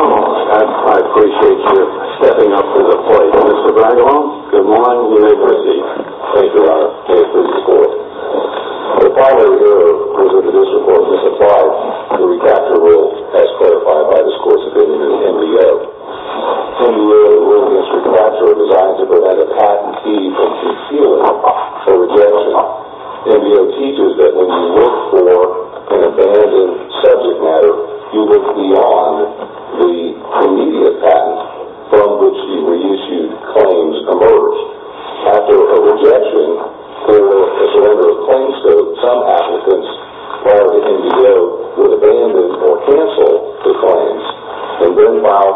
Oh, I appreciate your stepping up to the plate, Mr. Bragelow. Good morning. You may proceed. Thank you, Your Honor. Thank you for your support. The file editor presented this report to supply the recapture rule, as clarified by the scores opinion in the NDA. In your ruling, Mr. Conrad, you are designed to prevent a patentee from concealing a rejection. NBO teaches that when you look for an abandoned subject matter, you look beyond the immediate patent, from which the reissued claims emerge. After a rejection or a surrender of claims, though, some applicants prior to NBO would look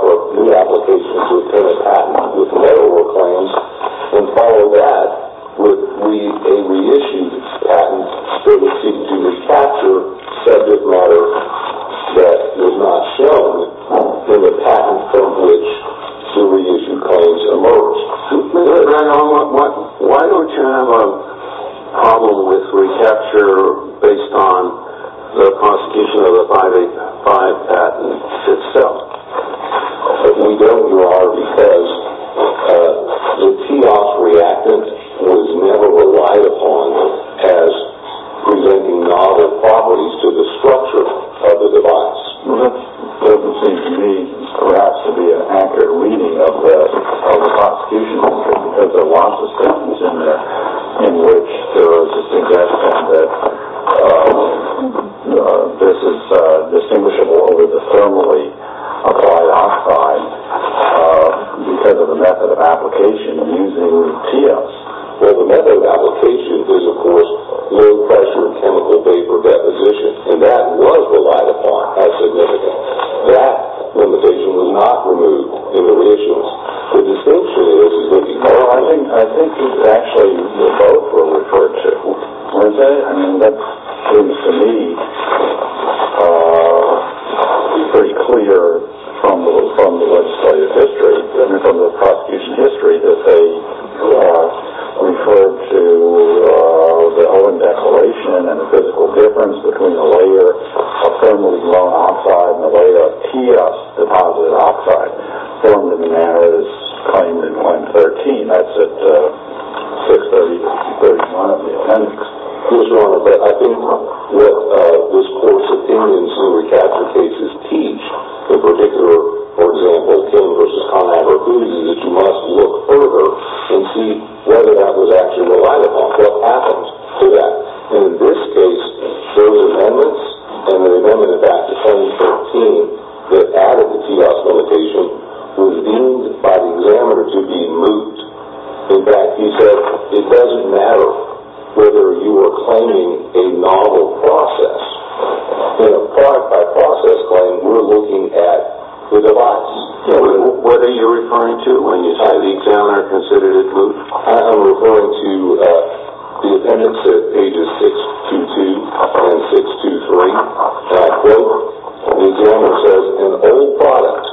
for new applications to obtain a patent with no claims, and follow that with a reissued patent that would seek to recapture subject matter that is not shown in the patent, from which the reissued claims emerge. Mr. Bragelow, why don't you have a problem with recapture based on the prosecution of the 585 patent itself? We don't, Your Honor, because the TEOS reactant was never relied upon as presenting novel properties to the structure of the device. That would seem to me perhaps to be an accurate reading of the prosecution, because there are in which there is a suggestion that this is distinguishable over the thermally applied oxide, because of the method of application using TEOS. Well, the method of application is, of course, low-pressure chemical vapor deposition, and that was relied upon as significant. That limitation was not removed in the reissues. Well, I think actually the both were referred to, weren't they? I mean, that seems to me pretty clear from the legislative history, from the prosecution history, that they referred to the Owen Declaration and the physical difference between a layer of thermally blown oxide and a layer of TEOS-deposited oxide. And the manner is claimed in 113. That's at 630 to 631 of the appendix. Your Honor, but I think what this Court's opinions in recapture cases teach in particular, for example, King v. Conagher, is that you must look further and see whether that was actually relied upon. What happened to that? And in this case, those amendments and the amendment back to 1013 that added the TEOS limitation was deemed by the examiner to be moot. In fact, he said it doesn't matter whether you are claiming a novel process. Part by process claim, we're looking at the device. What are you referring to when you say the examiner considered it moot? I am referring to the appendix at pages 622 and 623. That quote, the examiner says, an old product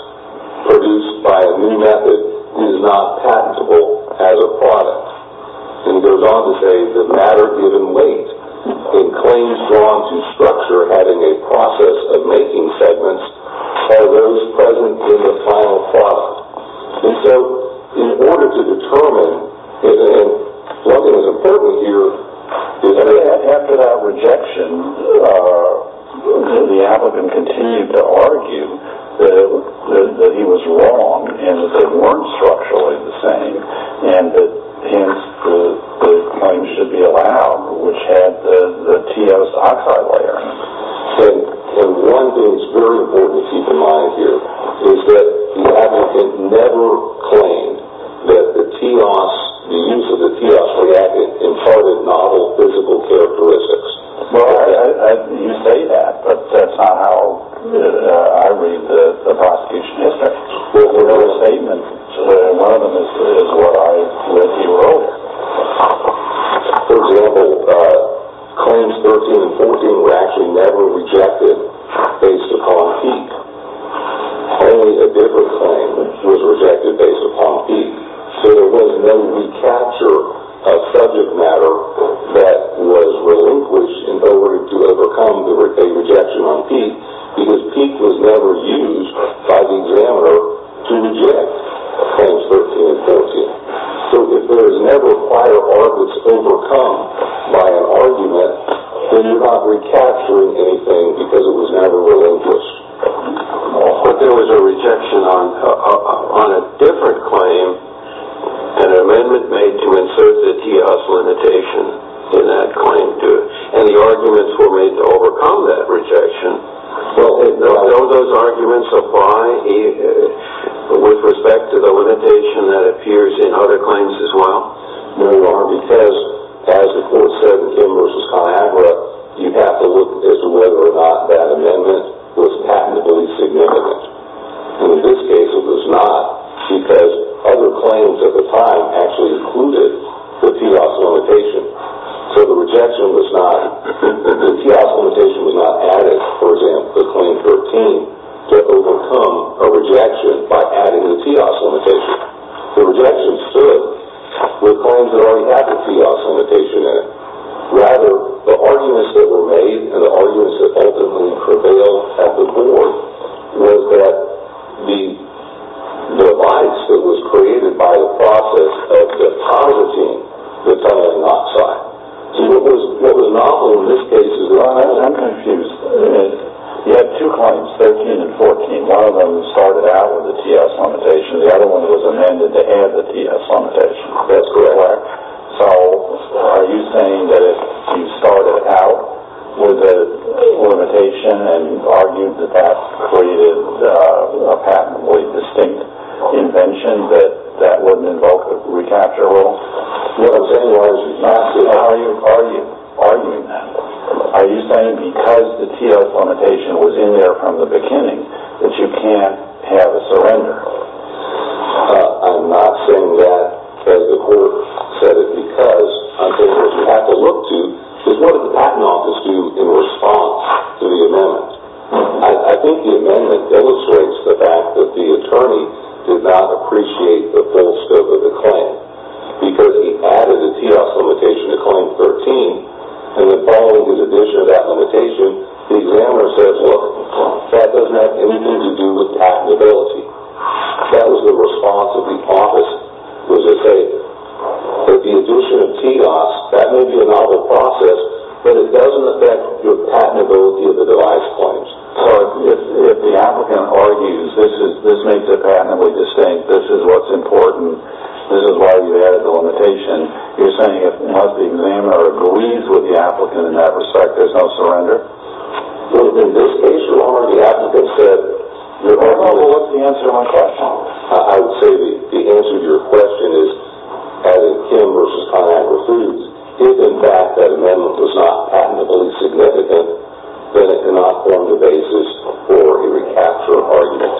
produced by a new method is not patentable as a product. And he goes on to say that matter given weight and claims drawn to structure having a process of making segments are those present in the final product. And so in order to determine, and one thing that's important here is that- After that rejection, the applicant continued to argue that he was wrong and that they weren't structurally the same and that the claims should be allowed, which had the TEOS oxide layer. And one thing that's very important to keep in mind here is that the applicant never claimed that the TEOS, the use of the TEOS reacted in part with novel physical characteristics. Well, you say that, but that's not how I read the prosecution history. The whole statement in one of them is what I read to you earlier. For example, claims 13 and 14 were actually never rejected based upon PEEQ. Only a different claim was rejected based upon PEEQ. So there was no recapture of subject matter that was relinquished in order to overcome a rejection on PEEQ because PEEQ was never used by the examiner to reject claims 13 and 14. So if there is never prior orbits overcome by an argument, then you're not recapturing anything because it was never relinquished. But there was a rejection on a different claim, an amendment made to insert the TEOS limitation in that claim, and the arguments were made to overcome that rejection. Well, do those arguments apply with respect to the limitation that appears in other claims as well? No, because as the court said in Kim v. Calabra, you have to look as to whether or not that amendment was patentably significant. And in this case, it was not because other claims at the time actually included the TEOS limitation. So the rejection was not. The TEOS limitation was not added, for example, to claim 13, to overcome a rejection by adding the TEOS limitation. The rejection stood with claims that only had the TEOS limitation in it. Rather, the arguments that were made and the arguments that ultimately prevailed at the court was that the device that was created by the process of depositing the toluene oxide. So what was novel in this case is that I'm confused. You had two claims, 13 and 14. One of them started out with the TEOS limitation. The other one was amended to add the TEOS limitation. That's correct. So are you saying that if you started out with a limitation and argued that that created a patentably distinct invention, that that wouldn't invoke the recapture rule? Are you arguing that? Are you saying because the TEOS limitation was in there from the beginning that you can't have a surrender? I'm not saying that as a court. I said it because I think what you have to look to is what did the patent office do in response to the amendment. I think the amendment illustrates the fact that the attorney did not appreciate the full scope of the claim because he added the TEOS limitation to claim 13, and then following his addition of that limitation, the examiner says, look, that doesn't have anything to do with patentability. That was the response of the office, was to say that the addition of TEOS, that may be a novel process, but it doesn't affect your patentability of the device claims. So if the applicant argues this makes it patentably distinct, this is what's important, this is why you added the limitation, you're saying it must be examined or agrees with the applicant in that respect, there's no surrender? Well, in this case, your argument, the applicant said, well, what's the answer to my question? I would say the answer to your question is adding Kim versus ConAqua Foods. If, in fact, that amendment was not patentably significant, then it cannot form the basis for a recapture argument.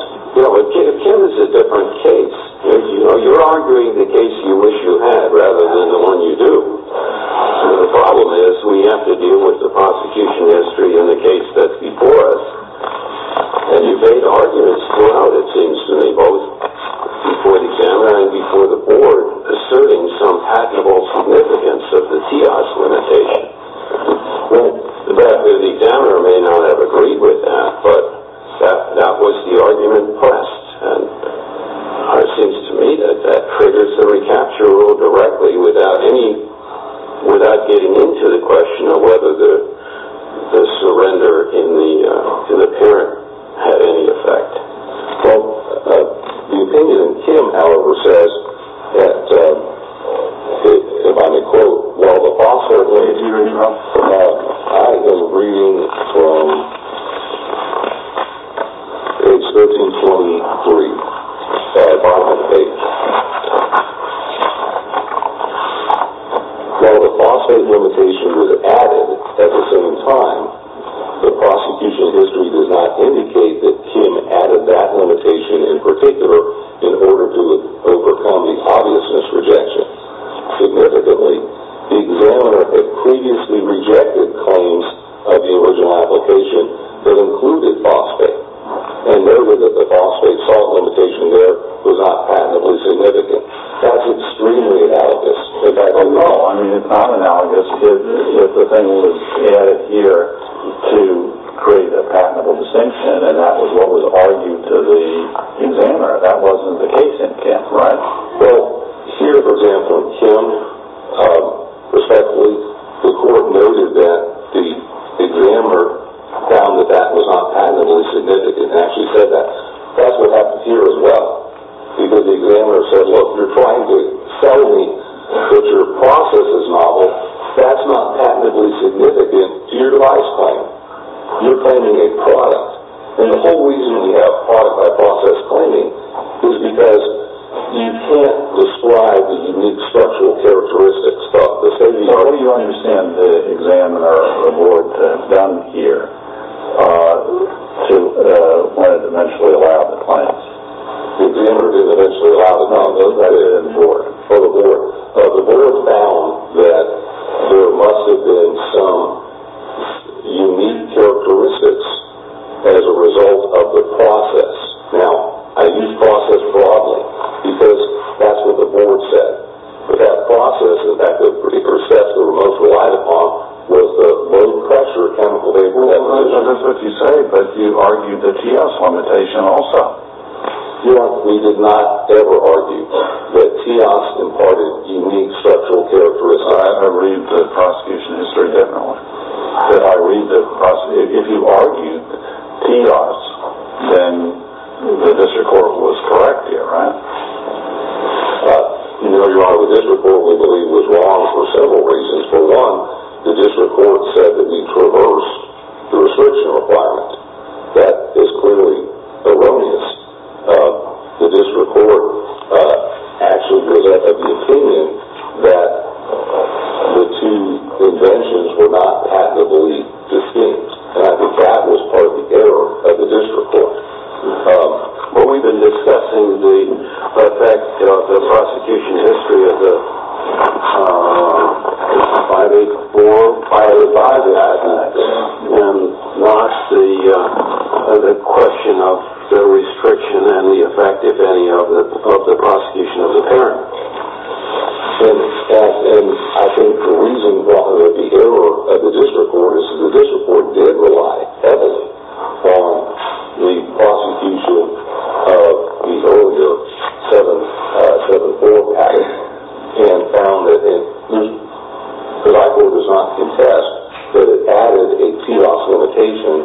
Kim is a different case. You're arguing the case you wish you had rather than the one you do. The problem is we have to deal with the prosecution history in the case that's before us, and you've made arguments throughout, it seems to me, both before the examiner and before the board asserting some patentable significance of the TEOS limitation. The examiner may not have agreed with that, but that was the argument pressed, and it seems to me that that triggers the recapture rule directly without getting into the question of whether the surrender in the parent had any effect. Well, the opinion in Kim, however, says that, if I may quote, while the phosphate limitation was added at the same time, the prosecution history does not indicate that Kim added that limitation in particular in order to overcome the obviousness rejection. Significantly, the examiner had previously rejected claims of the original application that included phosphate, and noted that the phosphate salt limitation there was not patentably significant. That's extremely analogous. In fact, I don't know. I mean, if not analogous, if the thing was added here to create a patentable distinction and that was what was argued to the examiner, that wasn't the case in Kim. Right. Well, here, for example, in Kim, respectfully, the court noted that the examiner found that that was not patentably significant. It actually said that. That's what happened here as well, because the examiner said, well, if you're trying to sell me that your process is novel, that's not patentably significant to your device claim. You're claiming a product. And the whole reason we have product-by-process claiming is because you can't describe the unique structural characteristics of the safety code. Well, what do you understand the examiner or the board has done here to, when it eventually allowed the claims? The examiner did eventually allow them. No, it wasn't for the board. The board found that there must have been some unique characteristics as a result of the process. Now, I use process broadly, because that's what the board said. But that process, in fact, the particular steps that we're most relied upon, was the low pressure chemical vaporization. That's what you say, but you argued the TEOS limitation also. We did not ever argue that TEOS imparted unique structural characteristics. I read the prosecution history differently. If you argued TEOS, then the district court was correct here, right? You're right, the district court, we believe, was wrong for several reasons. For one, the district court said that we traversed the restriction requirement. That is clearly erroneous. The district court actually was of the opinion that the two inventions were not patently distinct, and I think that was part of the error of the district court. But we've been discussing the effect of the prosecution history of the 584, fired by the ISAC, and not the question of the restriction and the effect, if any, of the prosecution of the parent. I think the reason for the error of the district court is that the district court did rely heavily on the prosecution of the earlier 744 patent and found that it, and I quote, does not contest, but it added a TEOS limitation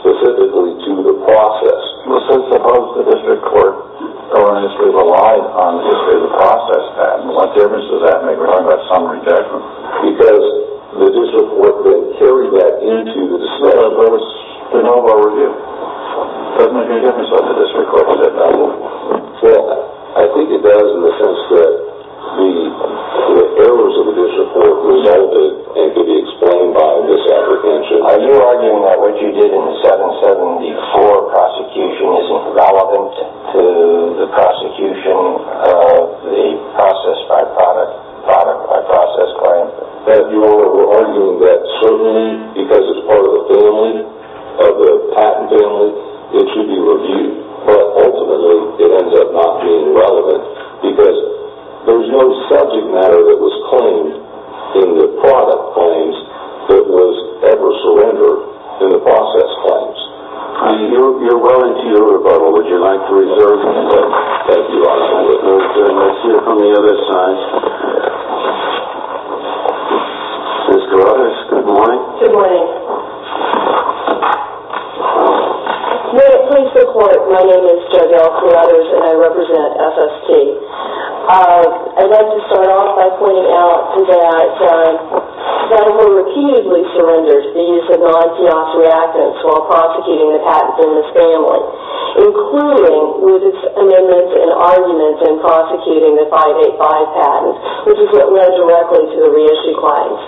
specifically to the process. Well, since both the district court and the district relied on the history of the process patent, what difference does that make when we're talking about summary judgment? Because the district court didn't carry that into the decision. Well, that's the normal review. Doesn't make any difference whether the district court did it or not. Well, I think it does in the sense that the errors of the district court resulted and could be explained by this apprehension. Are you arguing that what you did in the 774 prosecution isn't relevant to the prosecution of the process by product, product by process claim? We're arguing that certainly because it's part of the family, of the patent family, it should be reviewed, but ultimately it ends up not being relevant because there's no subject matter that was claimed in the product claims that was ever surrendered in the process claims. You're well into your rebuttal. Would you like to reserve it as you are? Let's hear it from the other side. Ms. Carruthers, good morning. Good morning. May it please the court, my name is Joanne Carruthers and I represent FST. I'd like to start off by pointing out that when we repeatedly surrendered the use of non-TEOS reactants while prosecuting the patents in this family, including with its amendments and arguments in prosecuting the 585 patent, which is what led directly to the reissue claims.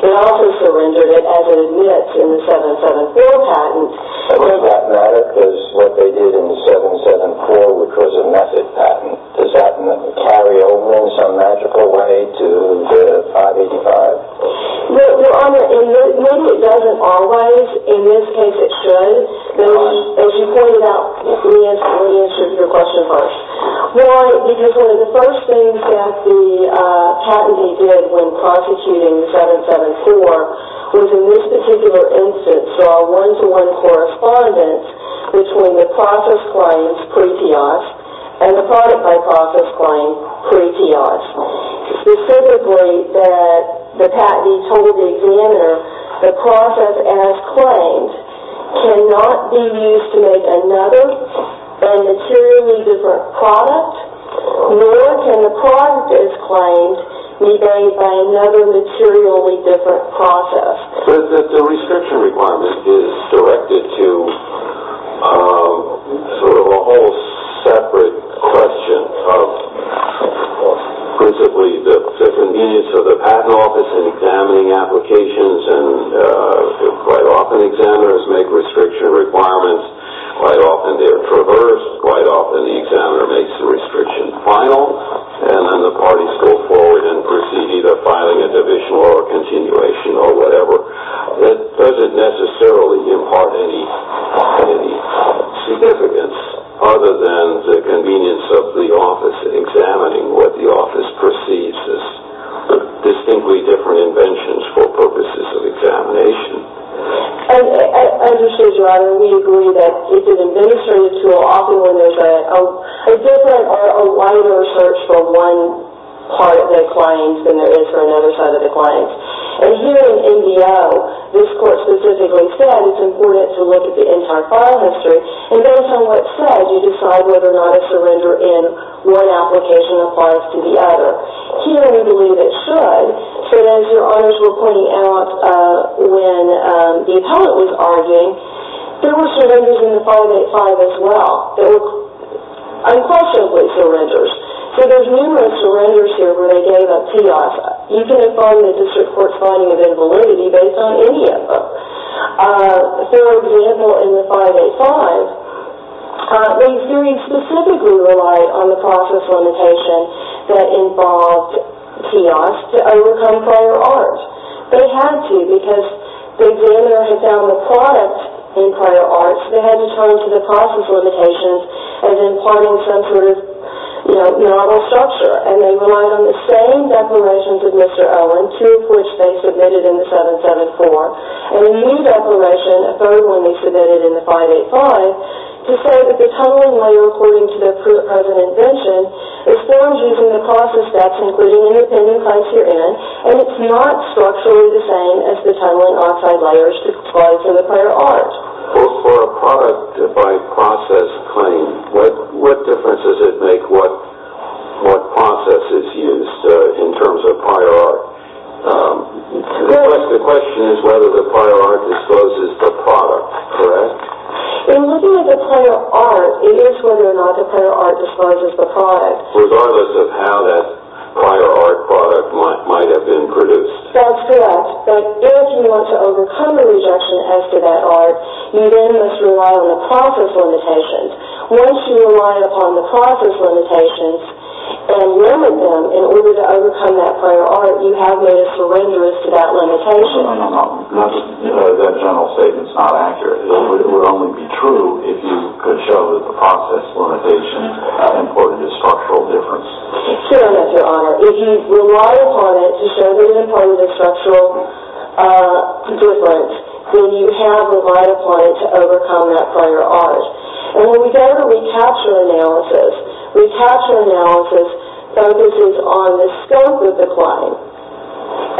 It also surrendered it as it admits in the 774 patent. Does that matter because what they did in the 774, which was a method patent, does that carry over in some magical way to the 585? Maybe it doesn't always. In this case it should. As you pointed out, let me answer your question first. Why? Because one of the first things that the patentee did when prosecuting the 774 was in this particular instance draw a one-to-one correspondence between the process claims pre-TEOS and the product by process claim pre-TEOS. Specifically, the patentee told the examiner, the process as claimed cannot be used to make another materially different product, nor can the product as claimed be made by another materially different process. The restriction requirement is directed to sort of a whole separate question of principally the convenience of the patent office in examining applications, and quite often examiners make restriction requirements. Quite often they are traversed. Quite often the examiner makes the restriction final, and then the parties go forward and proceed either filing a divisional or a continuation or whatever that doesn't necessarily impart any significance other than the convenience of the office in examining what the office perceives as distinctly different inventions for purposes of examination. I understand, Gerardo. We agree that it's an administrative tool often when there's a different There are a wider search for one part of the client than there is for another side of the client. And here in MDO, this court specifically said it's important to look at the entire file history, and based on what's said, you decide whether or not a surrender in one application applies to the other. Here we believe it should. So as your honors were pointing out when the appellant was arguing, there were surrenders in the 585 as well. Unquestionably surrenders. So there's numerous surrenders here where they gave up kiosk. You can define the district court's finding of invalidity based on any of them. For example, in the 585, these theories specifically relied on the process limitation that involved kiosks to overcome prior art. But it had to because the examiner had found the product in prior arts they had to turn to the process limitations as imparting some sort of novel structure. And they relied on the same declarations of Mr. Owen, two of which they submitted in the 774, and a new declaration, a third one they submitted in the 585, to say that the tunneling layer according to their present invention is formed using the process facts including independent criteria, and it's not structurally the same as the tunneling oxide layers to provide for the prior art. Well, for a product by process claim, what difference does it make what process is used in terms of prior art? The question is whether the prior art discloses the product, correct? In looking at the prior art, it is whether or not the prior art discloses the product. Regardless of how that prior art product might have been produced. That's correct. But if you want to overcome the rejection as to that art, you then must rely on the process limitations. Once you rely upon the process limitations and limit them in order to overcome that prior art, you have made a surrender as to that limitation. No, no, no. That general statement's not accurate. It would only be true if you could show that the process limitation imported a structural difference. Sure enough, Your Honor. If you rely upon it to show that it imported a structural difference, then you have relied upon it to overcome that prior art. And when we go to recapture analysis, recapture analysis focuses on the scope of the claim.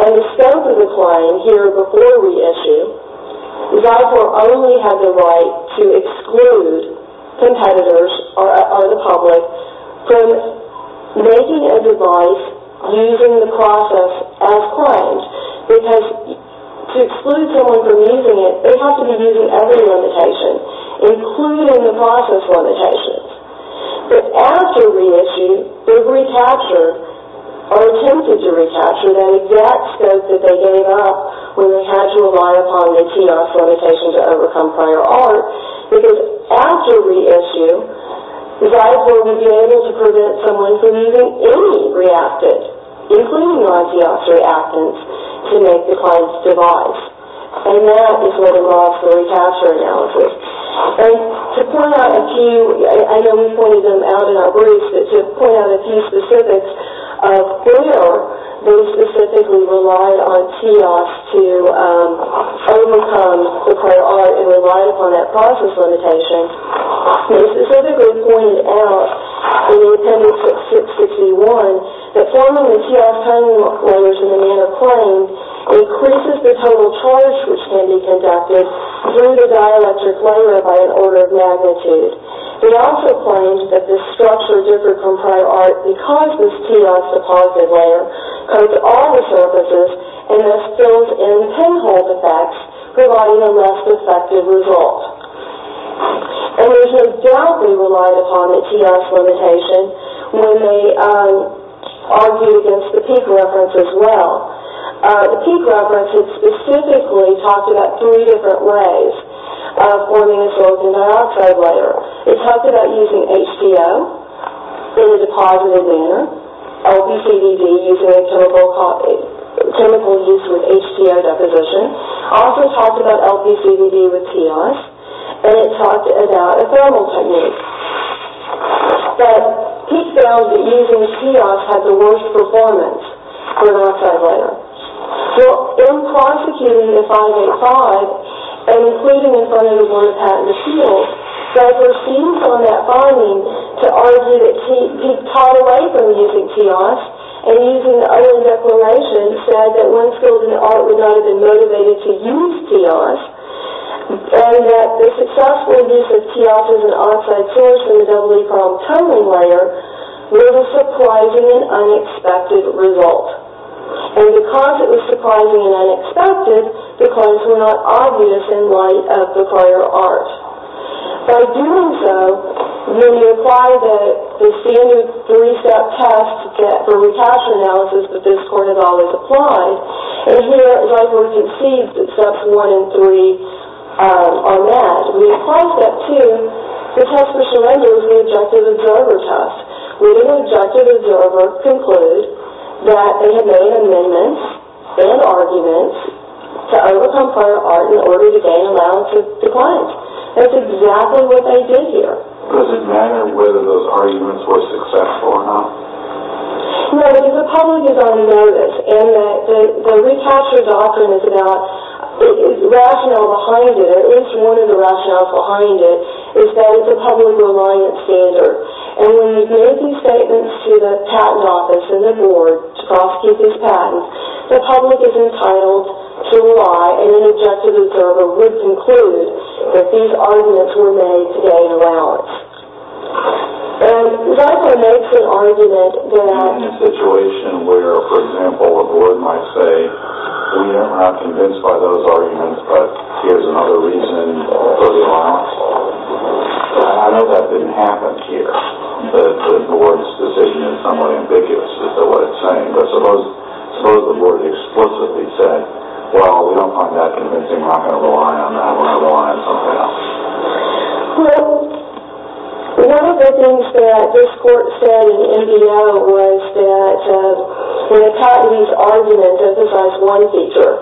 And the scope of the claim here before reissue, Zyphor only had the right to exclude competitors or the public from making a device using the process as claimed. Because to exclude someone from using it, they have to be using every limitation, including the process limitations. But after reissue, the recapture, or attempted to recapture, that exact scope that they gave up when they had to rely upon the TDOF limitation to overcome prior art, because after reissue, Zyphor would be able to prevent someone from using any reactant, including non-DOF reactants, to make the client's device. And that is where the law for recapture analysis. And to point out a few, I know we pointed them out in our briefs, but to point out a few specifics of where they specifically relied on TDOF to overcome the prior art and relied upon that process limitation, they specifically pointed out in the appendix 661 that forming the TDOF timing layers in the manner claimed increases the total charge which can be conducted through the dielectric layer by an order of magnitude. They also claimed that this structure differed from prior art because this TDOF deposited layer coats all the surfaces and thus fills in the pinhole defects, providing a less effective result. And there's no doubt they relied upon the TDOF limitation when they argued against the peak reference as well. The peak reference had specifically talked about three different ways of forming a sorbent dioxide layer. It talked about using HPO in a deposited manner, LPCDD using a chemical used with HPO deposition. It also talked about LPCDD with TEOS, and it talked about a thermal technique. But Peake found that using TEOS had the worst performance for an oxide layer. Well, in prosecuting the 585, and including in front of the Board of Patent Appeals, Douglas seems on that finding to argue that Peake taught away from using TEOS and using the other declaration said that when skilled in art would not have been motivated to use TEOS and that the successful use of TEOS as an oxide finish for the double-E chrome toning layer was a surprising and unexpected result. And because it was surprising and unexpected, the claims were not obvious in light of the prior art. By doing so, when you apply the standard three-step test for recapture analysis that this court had always applied, and here, as I've already conceded that steps one and three are met, when you apply step two, the test for surrender is the objective observer test, where the objective observer concludes that they had made amendments and arguments to overcome prior art in order to gain allowance with the client. That's exactly what they did here. Does it matter whether those arguments were successful or not? No, because the public is on notice, and the recapture doctrine is about the rationale behind it, or at least one of the rationales behind it is that it's a public reliance standard. And when you make these statements to the patent office and the board to prosecute these patents, the public is entitled to lie, and an objective observer would conclude that these arguments were made to gain allowance. And what if they're made to argue that they're not in a situation where, for example, the board might say, you know, we're not convinced by those arguments, but here's another reason for the allowance. I know that didn't happen here. The board's decision is somewhat ambiguous as to what it's saying, but suppose the board explicitly said, well, we don't find that convincing. We're not going to rely on that. We're going to rely on something else. Well, one of the things that this court said in the NBO was that when a patentee's argument emphasizes one feature,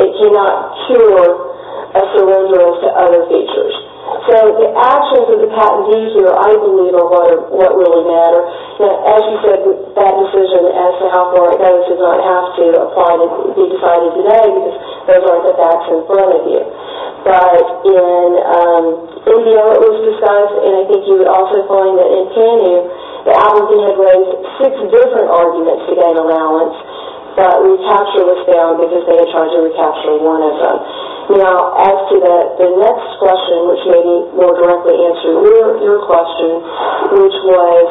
it cannot cure a surrender to other features. So the actions of the patentee here, I believe, are what really matter. As you said, that decision as to how far it goes does not have to be decided today, because those aren't the facts in front of you. But in NBO it was discussed, and I think you would also find that in TANU, the applicant had raised six different arguments to gain allowance, but recapture was found because they had tried to recapture one of them. Now, as to the next question, which maybe more directly answers your question, which was,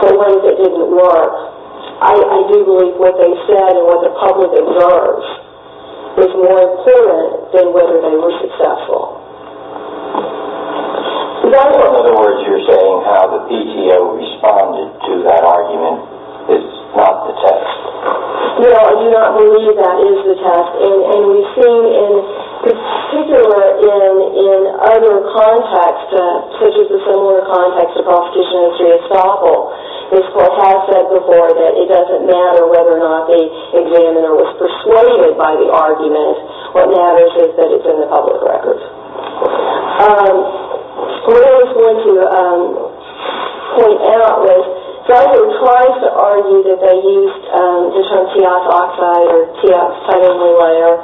so what if it didn't work? I do believe what they said and what the public observes is more important than whether they were successful. In other words, you're saying how the PTO responded to that argument is not the test. No, I do not believe that is the test, and we've seen in particular in other contexts, such as the similar context of prosecution in Dreyfusdal, this court has said before that it doesn't matter whether or not the examiner was persuaded by the argument. What matters is that it's in the public records. What I was going to point out was, the guy who tries to argue that they used detronteoxoxide or deoxyribonucleic acid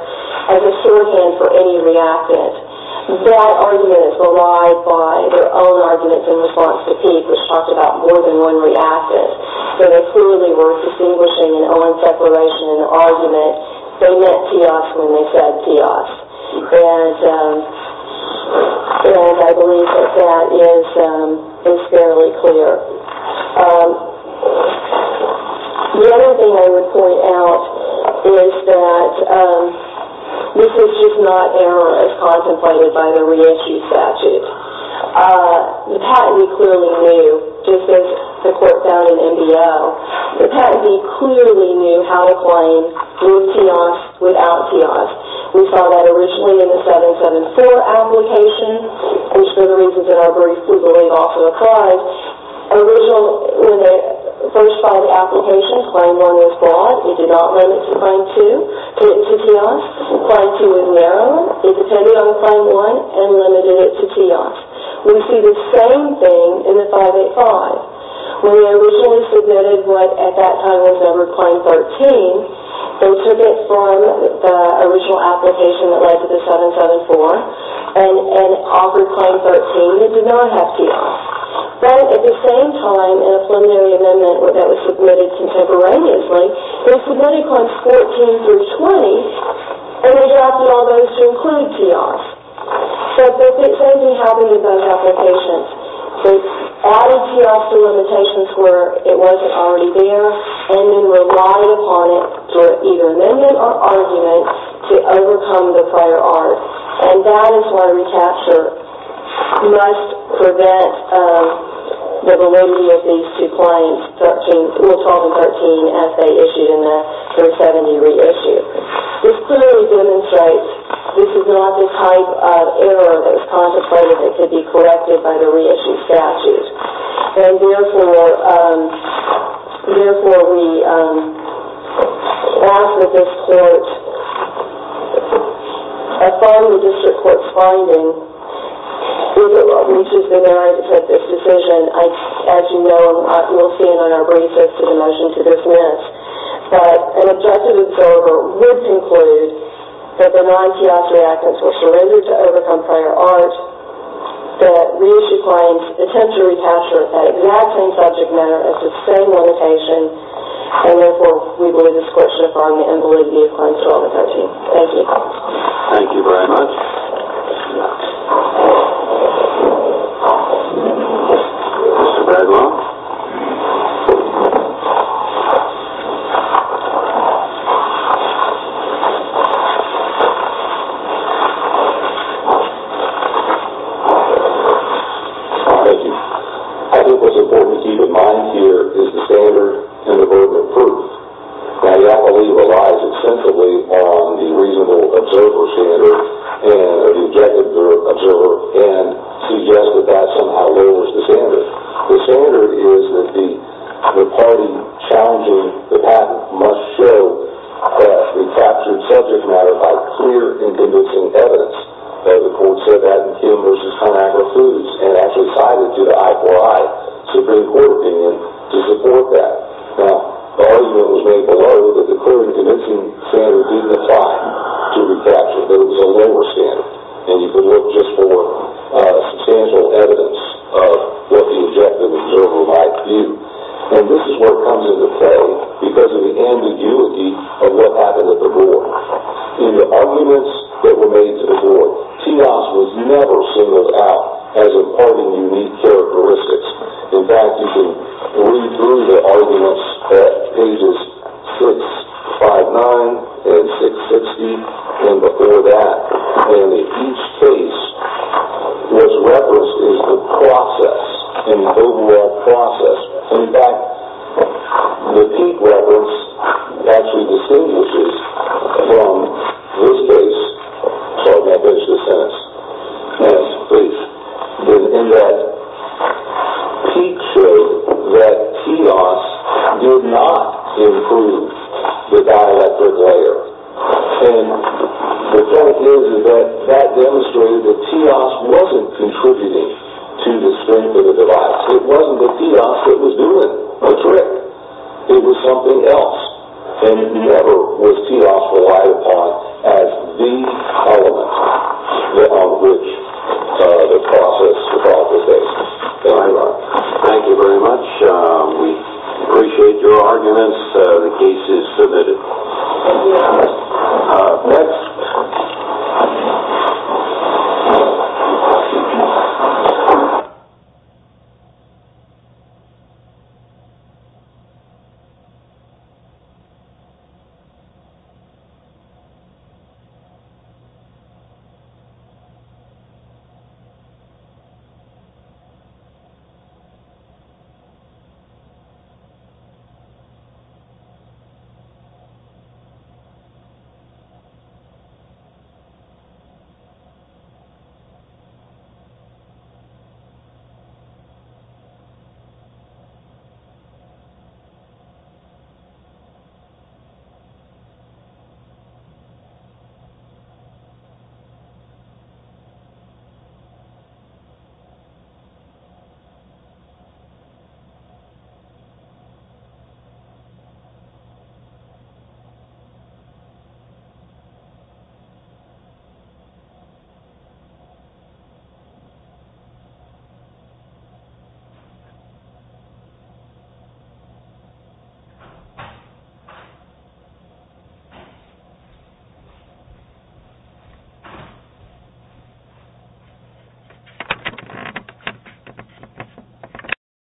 as a sure hand for any reactant, that argument is relied by their own arguments in response to Peek, which talked about more than one reactant. So they clearly were distinguishing an own separation in their argument. They meant deox when they said deox, and I believe that that is fairly clear. The other thing I would point out is that this is just not error as contemplated by the re-entry statute. The patentee clearly knew, just as the court found in MBO, the patentee clearly knew how to claim with deox, without deox. We saw that originally in the 774 application, which for the reasons that I'll briefly relate also occurred, when the first five applications, claim one was broad, we did not limit to claim two, to deox. Claim two was narrow. It depended on claim one and limited it to deox. We see the same thing in the 585. When we originally submitted what at that time was over claim 13, they took it from the original application that led to the 774 and offered claim 13. It did not have deox. But at the same time, in a preliminary amendment that was submitted contemporaneously, they submitted claims 14 through 20 and adapted all those to include deox. So the same thing happened with both applications. They added deox to limitations where it wasn't already there and then relied upon it for either amendment or argument to overcome the prior art, and that is why reCAPTCHA must prevent the validity of these two claims, rule 12 and 13, as they issued in the 370 reissue. This clearly demonstrates this is not the type of error that was contemplated that could be corrected by the reissue statute, and therefore we ask that this court, upon the district court's finding, if it reaches the merits of this decision, as you know, we'll see it on our briefs as to the motion to dismiss. But an objective observer would conclude that the non-teox reactants were surrendered to overcome prior art, that reissue claims attempt to recapture that exact same subject matter as the same limitation, and therefore we believe this court should affirm the invalidity of claims 12 and 13. Thank you. Thank you very much. Mr. Bradwell. Thank you. I think what's important to keep in mind here is the standard and the burden of proof. I believe it relies extensively on the reasonable observer standard, or the objective observer, and suggests that that somehow lowers the standard. The standard is that the party challenging the patent must show that the captured subject matter by clear and convincing evidence. The court said that in Kim v. Conagra Foods, and actually cited to the I4I Supreme Court opinion to support that. Now, the argument was made below that the clear and convincing standard didn't apply to recapture, that it was a lower standard, and you could look just for substantial evidence of what the objective observer might view. And this is where it comes into play because of the ambiguity of what happened at the board. In the arguments that were made to the board, TEOS was never singled out as a part of unique characteristics. In fact, you can read through the arguments at pages 659 and 660 and before that, and in each case, what's referenced is the process and the overall process. In fact, the peak reference actually distinguishes from this case. Sorry if that makes no sense. Yes, please. In that, peak showed that TEOS did not improve the dialectic layer. And the fact is that that demonstrated that TEOS wasn't contributing to the strength of the device. It wasn't the TEOS that was doing the trick. It was something else, and it never was TEOS relied upon as the element on which the process evolved with this. Thank you very much. We appreciate your arguments. The case is submitted. Thank you very much. Thank you. Thank you.